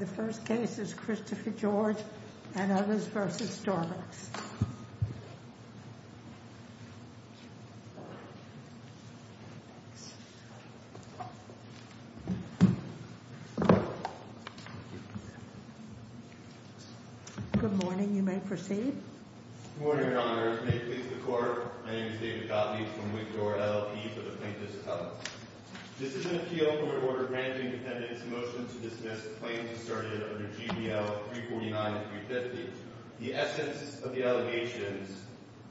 The first case is Christopher George and others v. Starbucks. Good morning, Your Honor. May it please the Court, my name is David Gottlieb from Wigdord, LLP for the Plaintiffs' Covenant. This is an appeal in which the Court granted the defendant's motion to dismiss claims asserted under GBL 349 and 350. The essence of the allegations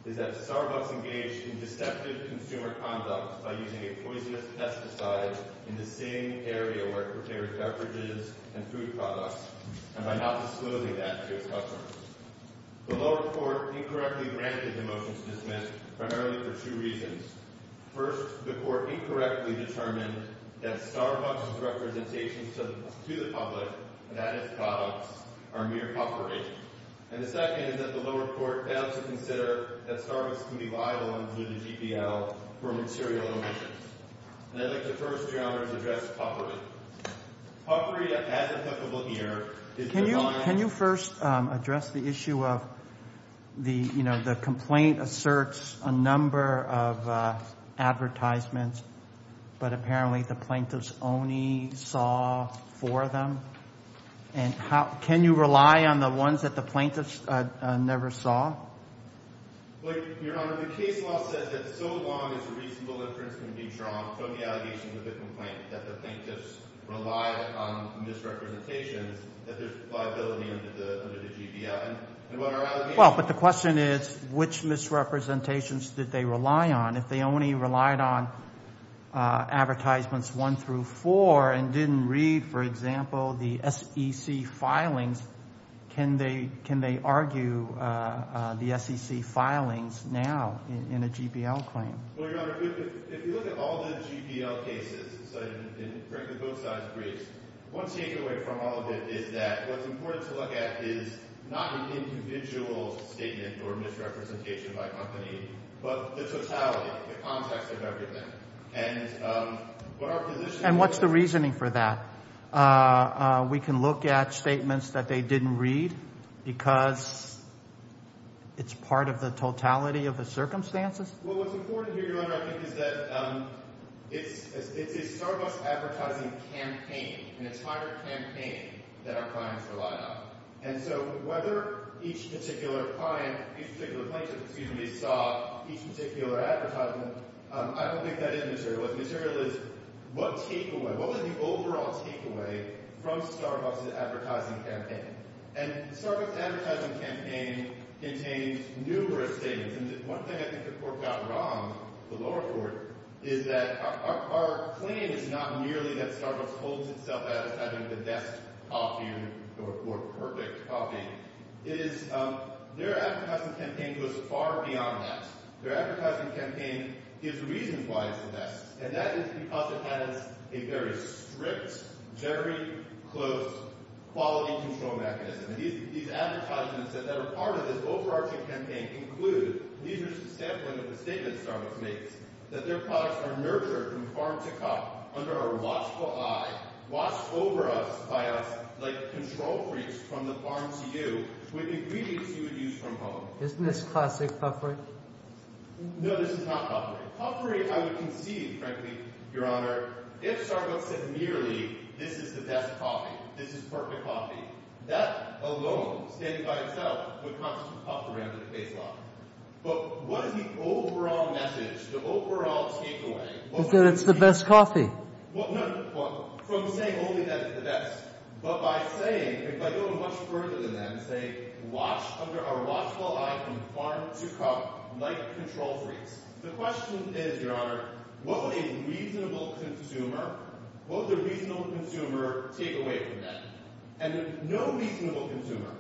is that Starbucks engaged in deceptive consumer conduct by using a poisonous pesticide in the same area where it prepared beverages and food products, and by not disclosing that to its customers. The lower court incorrectly granted the motion to dismiss primarily for two reasons. First, the court incorrectly determined that Starbucks' representations to the public, that is, products, are mere puffery. And the second is that the lower court failed to consider that Starbucks could be liable under the GBL for material omissions. And I'd like to first, Your Honor, to address puffery. Puffery, as applicable here, is designed— —advertisements, but apparently the plaintiffs only saw four of them. And how—can you rely on the ones that the plaintiffs never saw? Well, Your Honor, the case law says that so long as a reasonable inference can be drawn from the allegations of the complaint that the plaintiffs relied on misrepresentations, that there's liability under the GBL. Well, but the question is which misrepresentations did they rely on? If they only relied on advertisements one through four and didn't read, for example, the SEC filings, can they argue the SEC filings now in a GBL claim? Well, Your Honor, if you look at all the GBL cases, so in both sides of Greece, one takeaway from all of it is that what's important to look at is not an individual statement or misrepresentation by a company, but the totality, the context of everything. And what our position— And what's the reasoning for that? We can look at statements that they didn't read because it's part of the totality of the circumstances? Well, what's important here, Your Honor, I think, is that it's a Starbucks advertising campaign, an entire campaign that our clients relied on. And so whether each particular client—each particular plaintiff, excuse me—saw each particular advertisement, I don't think that is material. What's material is what takeaway—what was the overall takeaway from Starbucks' advertising campaign? And Starbucks' advertising campaign contains numerous statements. And one thing I think the Court got wrong, the lower court, is that our claim is not merely that Starbucks holds itself out as having the best coffee or perfect coffee. It is—their advertising campaign goes far beyond that. Their advertising campaign gives reasons why it's the best, and that is because it has a very strict, very close quality control mechanism. And these advertisements that are part of this overarching campaign include—these are just a sampling of the statements Starbucks makes— that their products are nurtured from farm to cup under our watchful eye, watched over us by us like control freaks from the farm to you with ingredients you would use from home. Isn't this classic puffery? No, this is not puffery. Puffery, I would concede, frankly, Your Honor, if Starbucks said merely this is the best coffee, this is perfect coffee, that alone, stated by itself, would constitute puffery under the case law. But what is the overall message, the overall takeaway? That it's the best coffee. Well, no, from saying only that it's the best, but by saying—if I go much further than that and say watch under our watchful eye from farm to cup like control freaks, the question is, Your Honor, what would a reasonable consumer—what would a reasonable consumer take away from that? And no reasonable consumer,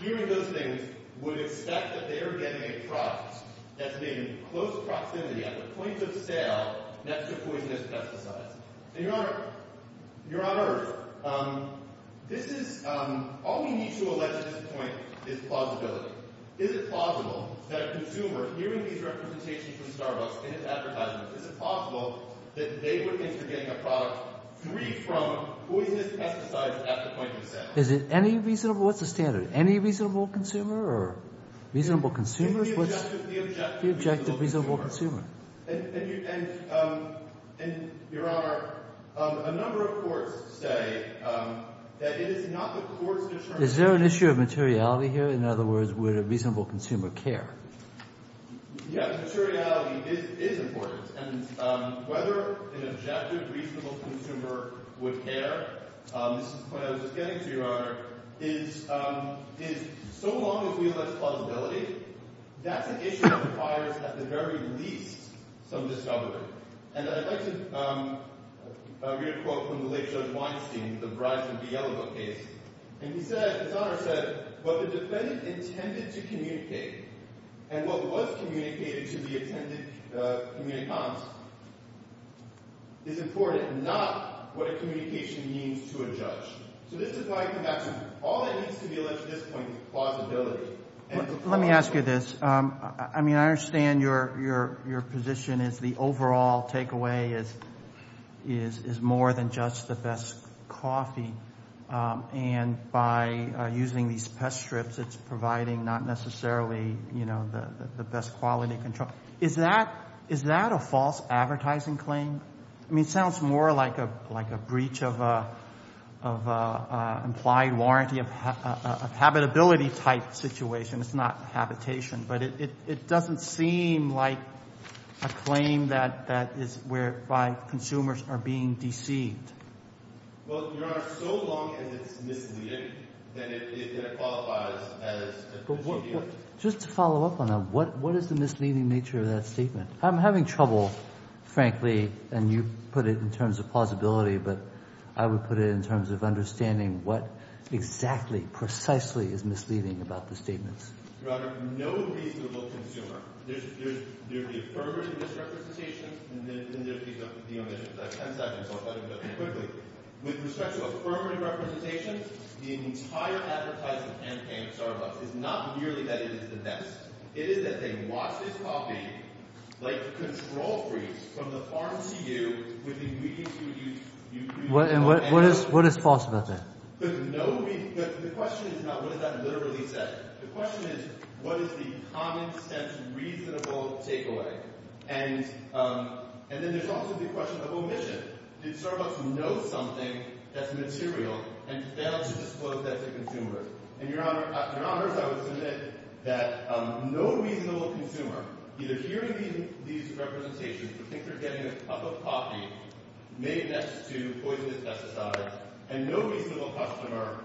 hearing those things, would expect that they are getting a product that's made in close proximity, at the point of sale, next to poisonous pesticides. And, Your Honor, Your Honor, this is—all we need to allege at this point is plausibility. Is it plausible that a consumer, hearing these representations from Starbucks and its advertisements, is it plausible that they would think they're getting a product free from poisonous pesticides at the point of sale? Is it any reasonable—what's the standard? Any reasonable consumer or reasonable consumers? The objective reasonable consumer. The objective reasonable consumer. And, Your Honor, a number of courts say that it is not the court's determination— Is there an issue of materiality here? In other words, would a reasonable consumer care? Yes, materiality is important. And whether an objective reasonable consumer would care, this is the point I was just getting to, Your Honor, is so long as we allege plausibility, that's an issue that requires, at the very least, some discovery. And I'd like to read a quote from the late Judge Weinstein, the Bryson v. Yellow Book case. And he said—his Honor said, what the defendant intended to communicate and what was communicated to the attendant communicant is important, not what a communication means to a judge. So this is why I come back to all that needs to be alleged at this point is plausibility. Let me ask you this. I mean, I understand your position is the overall takeaway is more than just the best coffee. And by using these pest strips, it's providing not necessarily, you know, the best quality control. Is that a false advertising claim? I mean, it sounds more like a breach of implied warranty of habitability type situation. It's not habitation. But it doesn't seem like a claim that is where consumers are being deceived. Well, Your Honor, so long as it's misleading, then it qualifies as a procedure. Just to follow up on that, what is the misleading nature of that statement? I'm having trouble, frankly, and you put it in terms of plausibility, but I would put it in terms of understanding what exactly, precisely is misleading about the statements. Your Honor, no reasonable consumer. There's the affirmative misrepresentation. And then there's the omissions. I have 10 seconds, so I'll try to go quickly. With respect to affirmative representation, the entire advertising campaign of Starbucks is not merely that it is the best. It is that they watch this coffee like a control freeze from the farm to you with ingredients you use. And what is false about that? The question is not what is that literally said. The question is what is the common-sense, reasonable takeaway. And then there's also the question of omission. Did Starbucks know something that's material and fail to disclose that to consumers? And, Your Honor, I would submit that no reasonable consumer, either hearing these representations or think they're getting a cup of coffee made next to poisonous pesticides, and no reasonable customer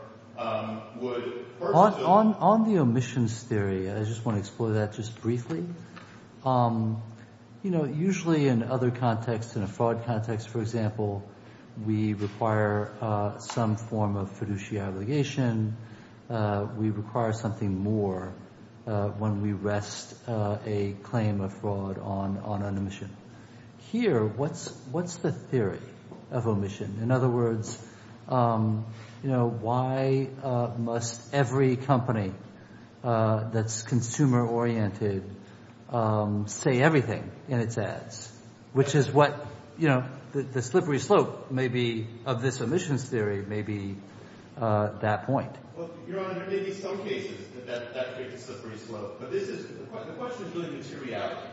would pursue On the omissions theory, I just want to explore that just briefly. Usually in other contexts, in a fraud context, for example, we require some form of fiduciary obligation. We require something more when we rest a claim of fraud on an omission. Here, what's the theory of omission? In other words, why must every company that's consumer-oriented say everything in its ads? Which is what the slippery slope of this omissions theory may be at that point. Your Honor, there may be some cases that create a slippery slope. But the question is really materiality.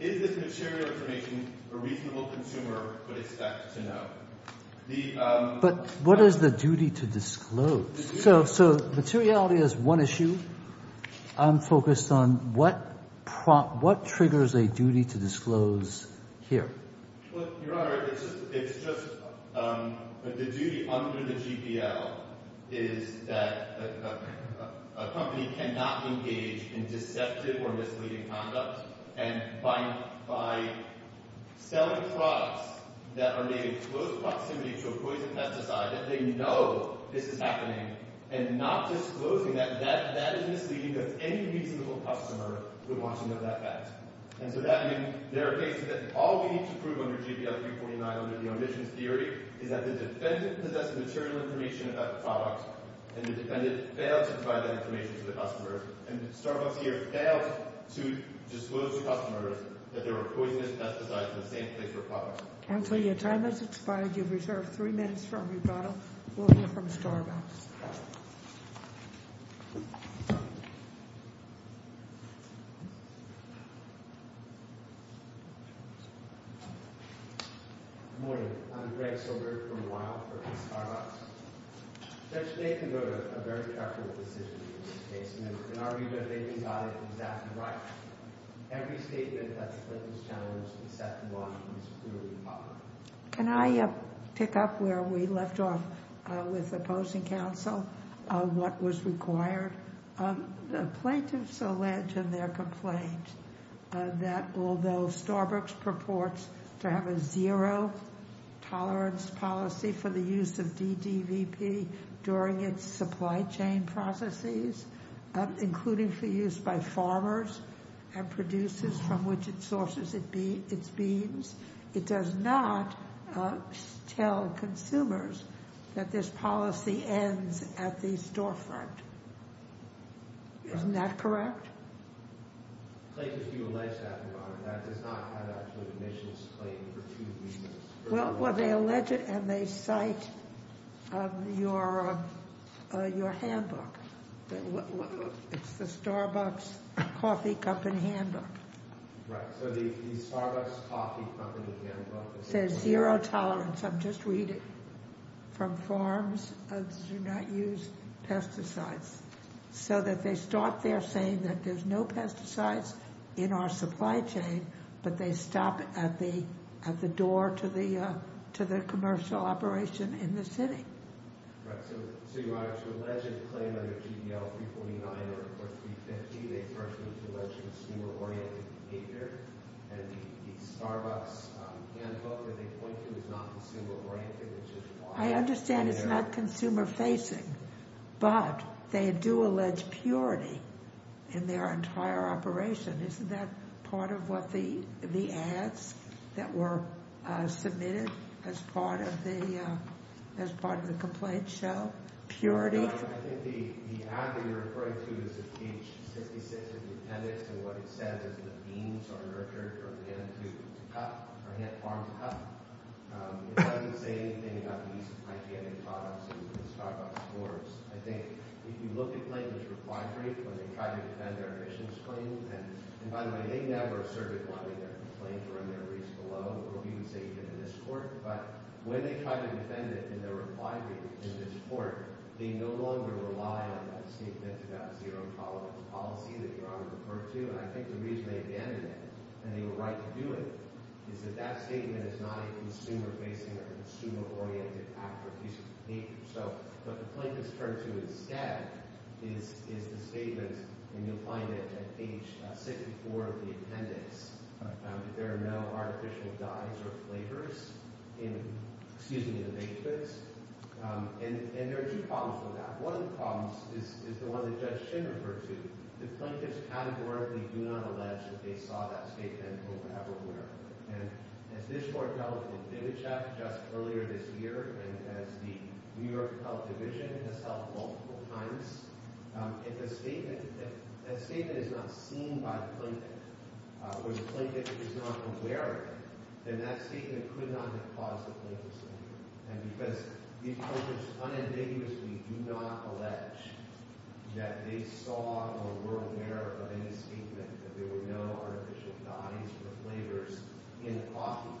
Is this material information a reasonable consumer would expect to know? But what is the duty to disclose? So materiality is one issue. I'm focused on what triggers a duty to disclose here. Well, Your Honor, it's just the duty under the GPL is that a company cannot engage in deceptive or misleading conduct by selling products that are made in close proximity to a poison pesticide that they know this is happening and not disclosing that. That is misleading if any reasonable customer would want to know that fact. And so there are cases that all we need to prove under GPL 349, under the omissions theory, is that the defendant possessed material information about the product, and the defendant failed to provide that information to the customer, and Starbucks here failed to disclose to customers that there were poisonous pesticides in the same place or product. Counselor, your time has expired. You have reserved three minutes for rebuttal. We'll hear from Starbucks. Good morning. I'm Greg Silver from Weill for Starbucks. Judge Nathan wrote a very careful decision in this case. In our rebuttal, he got it exactly right. Every statement that the plaintiff challenged, except the one that was clearly popular. Can I pick up where we left off with opposing counsel on what was required? The plaintiffs allege in their complaint that although Starbucks purports to have a zero tolerance policy for the use of DDVP during its supply chain processes, including for use by farmers and producers from which it sources its beans, it does not tell consumers that this policy ends at the storefront. Isn't that correct? The plaintiffs do allege that, Your Honor. That does not add up to an omissions claim for two reasons. Well, they allege it and they cite your handbook. It's the Starbucks Coffee Company handbook. Right, so the Starbucks Coffee Company handbook. It says zero tolerance. I'm just reading from farms that do not use pesticides. So that they start there saying that there's no pesticides in our supply chain, but they stop at the door to the commercial operation in the city. Right, so, Your Honor, to allege a claim under GDL 349 or 350, they first need to allege consumer-oriented behavior, and the Starbucks handbook that they point to is not consumer-oriented. I understand it's not consumer-facing, but they do allege purity in their entire operation. Isn't that part of what the ads that were submitted as part of the complaint show? Purity? Your Honor, I think the ad that you're referring to is page 66 of the appendix, and what it says is the beans are nurtured for men to cut or have farms cut. It doesn't say anything about the use of hygienic products in the Starbucks stores. I think if you look at Plaintiff's reply brief when they tried to defend their emissions claim, and by the way, they never asserted wanting their complaint to run their wreaths below, or abuse agent in this court, but when they tried to defend it in their reply brief in this court, they no longer rely on that statement about zero tolerance policy that Your Honor referred to, and I think the reason they abandoned it, and they were right to do it, is that that statement is not a consumer-facing or consumer-oriented act or piece of paper. So what the Plaintiffs turn to instead is the statement, and you'll find it at page 64 of the appendix, that there are no artificial dyes or flavors in the baked goods, and there are two problems with that. One of the problems is the one that Judge Chin referred to. The Plaintiffs categorically do not allege that they saw that statement or were ever aware of it, and as this Court held with Dvicek just earlier this year, and as the New York Health Division has held multiple times, if a statement, if that statement is not seen by the Plaintiff, or the Plaintiff is not aware of it, then that statement could not have caused the Plaintiff's injury, and because these Plaintiffs unambiguously do not allege that they saw or were aware of any statement, that there were no artificial dyes or flavors in the coffee,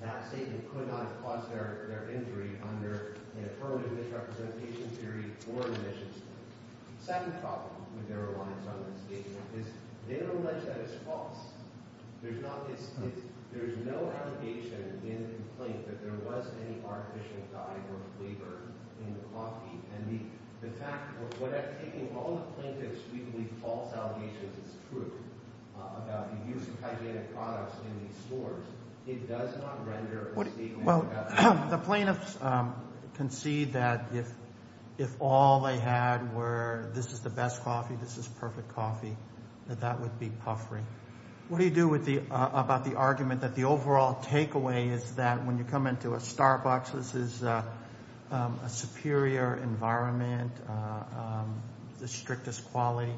that statement could not have caused their injury under an affirmative misrepresentation theory or an admissions theory. The second problem with their reliance on this statement is they don't allege that it's false. There's no allegation in the complaint that there was any artificial dye or flavor in the coffee, and the fact that when I'm taking all the Plaintiff's frequently false allegations as true about the use of hygienic products in these stores, it does not render a statement about that. Well, the Plaintiffs concede that if all they had were this is the best coffee, this is perfect coffee, that that would be puffery. What do you do about the argument that the overall takeaway is that when you come into a Starbucks, this is a superior environment, the strictest quality,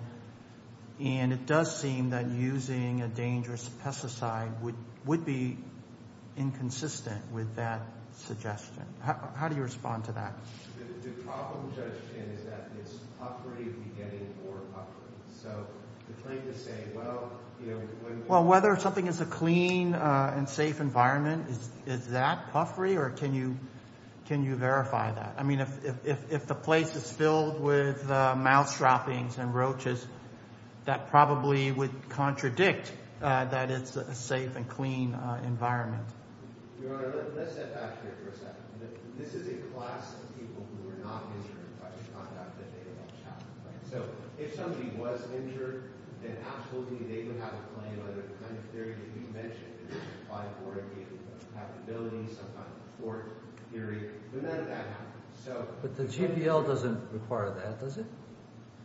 and it does seem that using a dangerous pesticide would be inconsistent with that suggestion. How do you respond to that? The problem, Judge Finn, is that it's puffery, you'd be getting more puffery. So the Plaintiff's saying, well, you know, when you're going to— Well, whether something is a clean and safe environment, is that puffery, or can you verify that? I mean, if the place is filled with mousetrappings and roaches, that probably would contradict that it's a safe and clean environment. Your Honor, let's step back here for a second. This is a class of people who were not injured by the conduct that they watched happen, right? So if somebody was injured, then absolutely they would have a claim on the kind of theory that you mentioned, the five-word capability, some kind of thwart theory. But none of that happens. But the GPL doesn't require that, does it?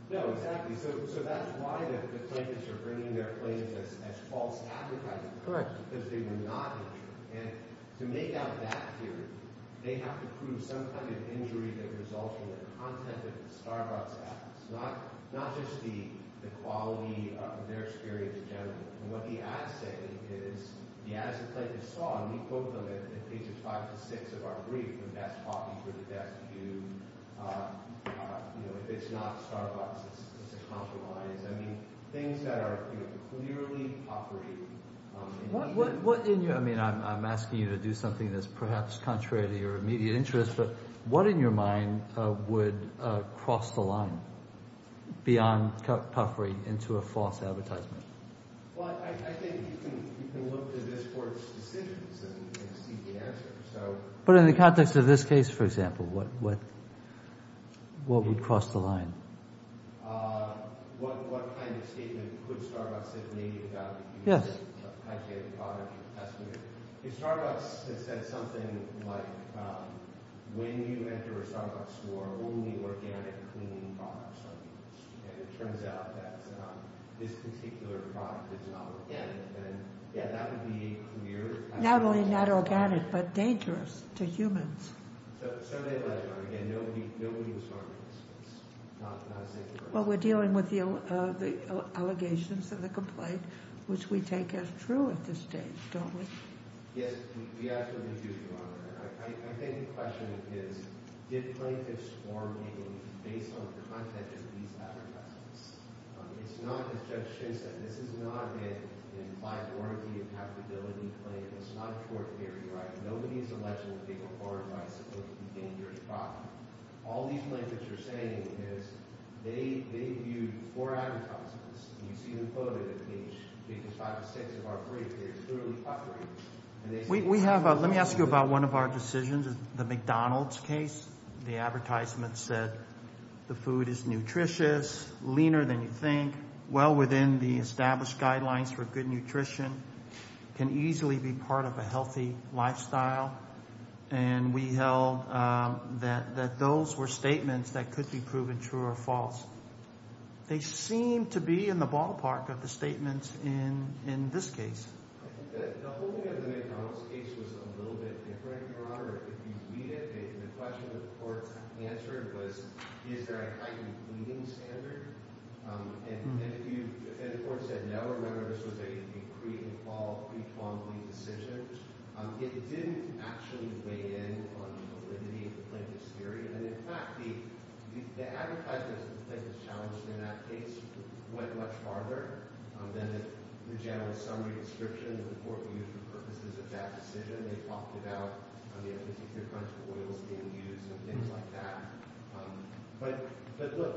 No, exactly. So that's why the Plaintiffs are bringing their claims as false advertising. Correct. Because they were not injured. And to make out that theory, they have to prove some kind of injury that results from the content of the Starbucks ads, not just the quality of their experience in general. And what the ads say is, the ads that the Plaintiffs saw, and we quote them in pages five to six of our brief, the best coffee for the best view, if it's not Starbucks, it's a compromise. I mean, things that are clearly puffery. What in your—I mean, I'm asking you to do something that's perhaps contrary to your immediate interest, but what in your mind would cross the line beyond puffery into a false advertisement? Well, I think you can look to this Court's decisions and see the answer. But in the context of this case, for example, what would cross the line? What kind of statement could Starbucks have made about using a high-quality product? If Starbucks had said something like, when you enter a Starbucks store, only organic, clean products are used, and it turns out that this particular product is not organic, then, yeah, that would be a clear— Not only not organic, but dangerous to humans. So they let go. Again, nobody was harmed in this case, not a single person. Well, we're dealing with the allegations of the complaint, which we take as true at this stage, don't we? Yes, we absolutely do, Your Honor. I think the question is, did plaintiffs form meetings based on the content of these advertisements? It's not, as Judge Shinn said, this is not an implied warranty and profitability claim. It's not a court theory, right? Nobody is alleged to have taken orange by supposed to be dangerous product. All these plaintiffs are saying is they viewed four advertisements, and you see them quoted at each, because five or six of our briefs, they're clearly puffering. Let me ask you about one of our decisions, the McDonald's case. The advertisement said the food is nutritious, leaner than you think, well within the established guidelines for good nutrition, can easily be part of a healthy lifestyle. And we held that those were statements that could be proven true or false. They seem to be in the ballpark of the statements in this case. The whole thing of the McDonald's case was a little bit different, Your Honor. If you read it, the question that the court answered was, is there a heightened bleeding standard? And the court said, no, remember this was a pre-involvement decision. It didn't actually weigh in on the validity of the plaintiff's theory. And, in fact, the advertisements that the plaintiffs challenged in that case went much farther than the general summary description. The court used the purposes of that decision. They talked about the efficacy of crunch oils being used and things like that. But, look,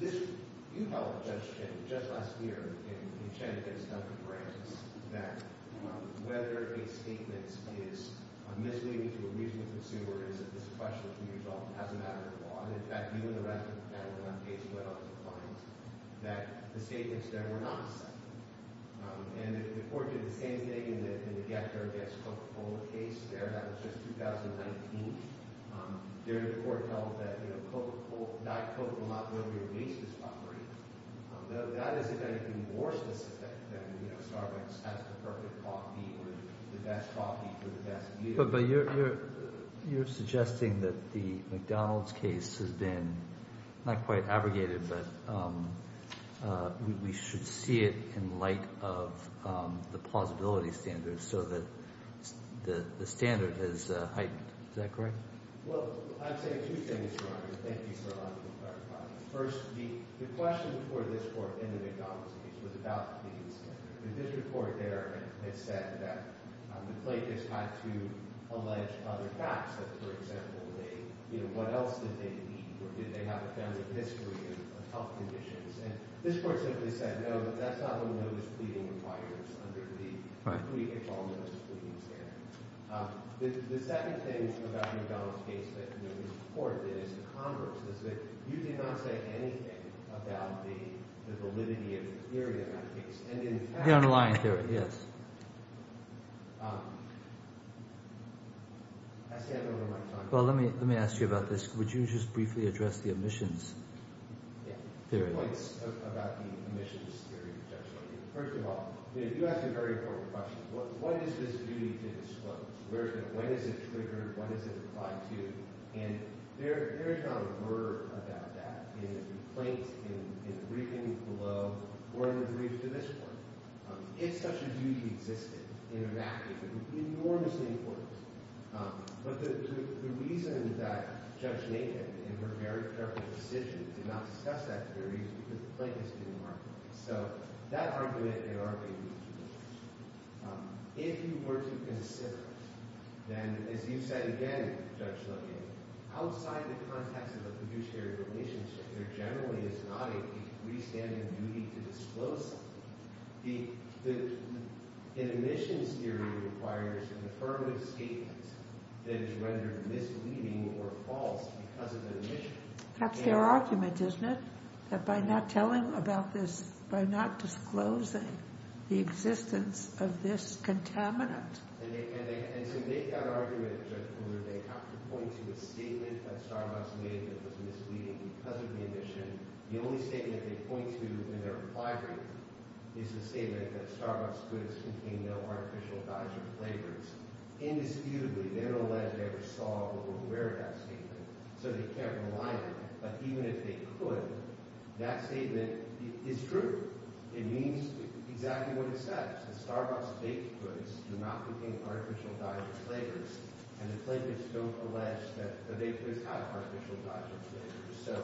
you held, Judge Chin, just last year in Chen against Duncan Brantis, that whether a statement is misleading to a reasonable consumer is a question that can be resolved as a matter of law. And, in fact, you and the rest of the panel in that case went on to find that the statements there were not accepted. And the court did the same thing in the Get Care Gets Cooked Whole case there. That was just 2019. There the court held that Diet Coke will not really release this property. That is, if anything, more specific than Starbucks has the perfect coffee or the best coffee for the best meal. But you're suggesting that the McDonald's case has been not quite abrogated, but we should see it in light of the plausibility standards so that the standard has heightened. Is that correct? Well, I would say two things, Your Honor. Thank you for allowing me to clarify. First, the question before this court in the McDonald's case was about these. The district court there had said that the plaintiffs had to allege other facts, that, for example, what else did they eat? Or did they have a family history of health conditions? And this court simply said, no, that's not what notice pleading requires under the complete default notice pleading standard. The second thing about the McDonald's case that this court did as a converse is that you did not say anything about the validity of the theory of that case. The underlying theory, yes. I stand over my time. Well, let me ask you about this. Would you just briefly address the omissions theory? Yeah. Points about the omissions theory. First of all, you asked a very important question. What is this duty to disclose? When is it triggered? When is it applied to? And there is not a word about that in the complaint, in the briefing below, or in the brief to this court. If such a duty existed in a fact, it would be enormously important. But the reason that Judge Nathan, in her very careful decision, did not discuss that theory is because the plaintiffs didn't argue it. So that argument did not make any sense. If you were to consider it, then, as you said again, Judge Levin, outside the context of the fiduciary relationship, there generally is not a freestanding duty to disclose it. The omissions theory requires an affirmative statement that is rendered misleading or false because of an omission. That's their argument, isn't it? That by not telling about this, by not disclosing the existence of this contaminant. And to make that argument, Judge Fuller, they have to point to a statement that Starbucks made that was misleading because of the omission. The only statement they point to in their reply brief is the statement that Starbucks goods contain no artificial dyes or flavors. Indisputably, they don't allege they ever saw or were aware of that statement, so they can't rely on it. But even if they could, that statement is true. It means exactly what it says. Starbucks baked goods do not contain artificial dyes or flavors, and the plaintiffs don't allege that the baked goods have artificial dyes or flavors. So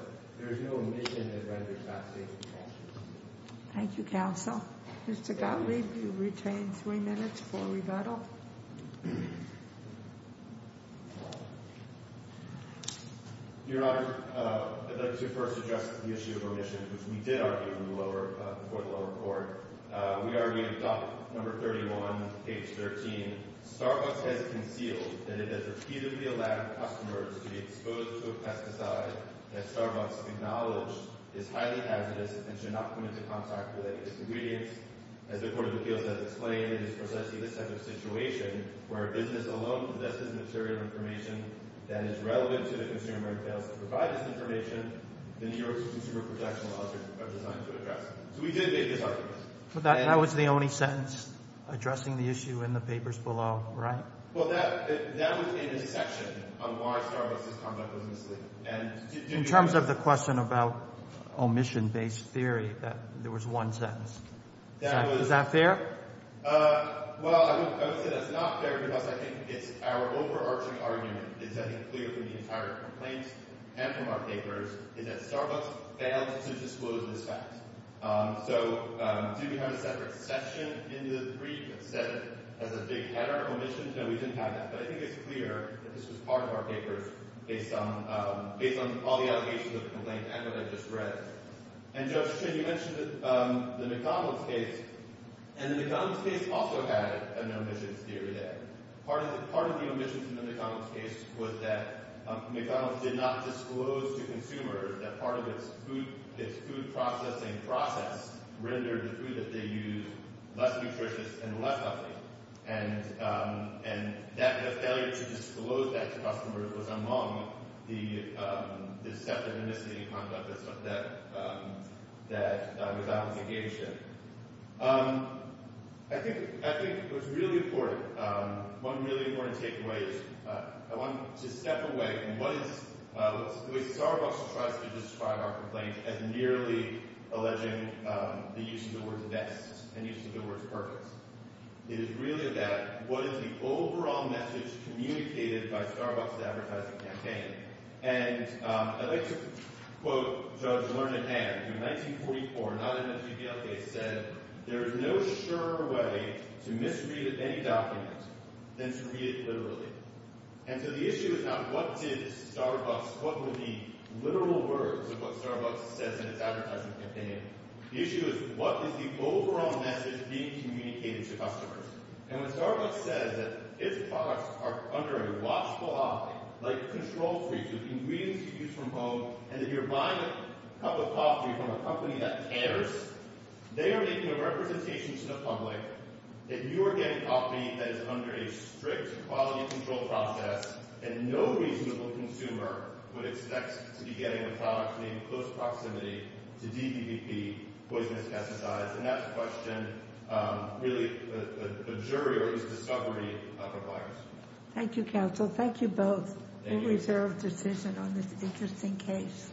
there's no omission that renders that statement false. Thank you, counsel. Mr. Gottlieb, you retain three minutes for rebuttal. Your Honor, let me first address the issue of omission, which we did argue for the lower court. We argued in Doctrine No. 31, page 13, Starbucks has concealed that it has repeatedly allowed customers to be exposed to a pesticide that Starbucks acknowledged is highly hazardous and should not come into contact with any disingredients. As the Court of Appeals has explained, it is precisely this type of situation where a business alone possesses material information that is relevant to the consumer and fails to provide this information. The New York City Consumer Protection Laws are designed to address that. So we did make this argument. But that was the only sentence addressing the issue in the papers below, right? Well, that was in a section on why Starbucks has come up with this statement. In terms of the question about omission-based theory, there was one sentence. Is that fair? Well, I would say that's not fair because I think it's our overarching argument. It's I think clear from the entire complaint and from our papers is that Starbucks failed to disclose this fact. So do we have a separate section in the brief that said it has a big header, omissions? No, we didn't have that. But I think it's clear that this was part of our papers based on all the allegations of the complaint and what I just read. And, Judge Chin, you mentioned the McDonald's case. And the McDonald's case also had an omissions theory there. And part of the omissions in the McDonald's case was that McDonald's did not disclose to consumers that part of its food processing process rendered the food that they used less nutritious and less healthy. And the failure to disclose that to customers was among the deceptive misleading conduct that was out of the game shift. I think it was really important. One really important takeaway is I want to step away from what is – the way Starbucks tries to describe our complaint as merely alleging the use of the word best and use of the word perfect. It is really about what is the overall message communicated by Starbucks' advertising campaign. And I'd like to quote Judge Learned Hand, who in 1944, not in the TVL case, said, There is no surer way to misread any document than to read it literally. And so the issue is not what did Starbucks – what were the literal words of what Starbucks says in its advertising campaign. The issue is what is the overall message being communicated to customers. And when Starbucks says that its products are under a watchful eye, like control treats with ingredients you use from home, and that you're buying a cup of coffee from a company that cares, they are making a representation to the public that you are getting coffee that is under a strict quality control process, and no reasonable consumer would expect to be getting a product made in close proximity to DDPP, poisonous pesticides. And that's a question really a jury or at least a discovery of a virus. Thank you, counsel. Thank you both. Thank you. A reserved decision on this interesting case.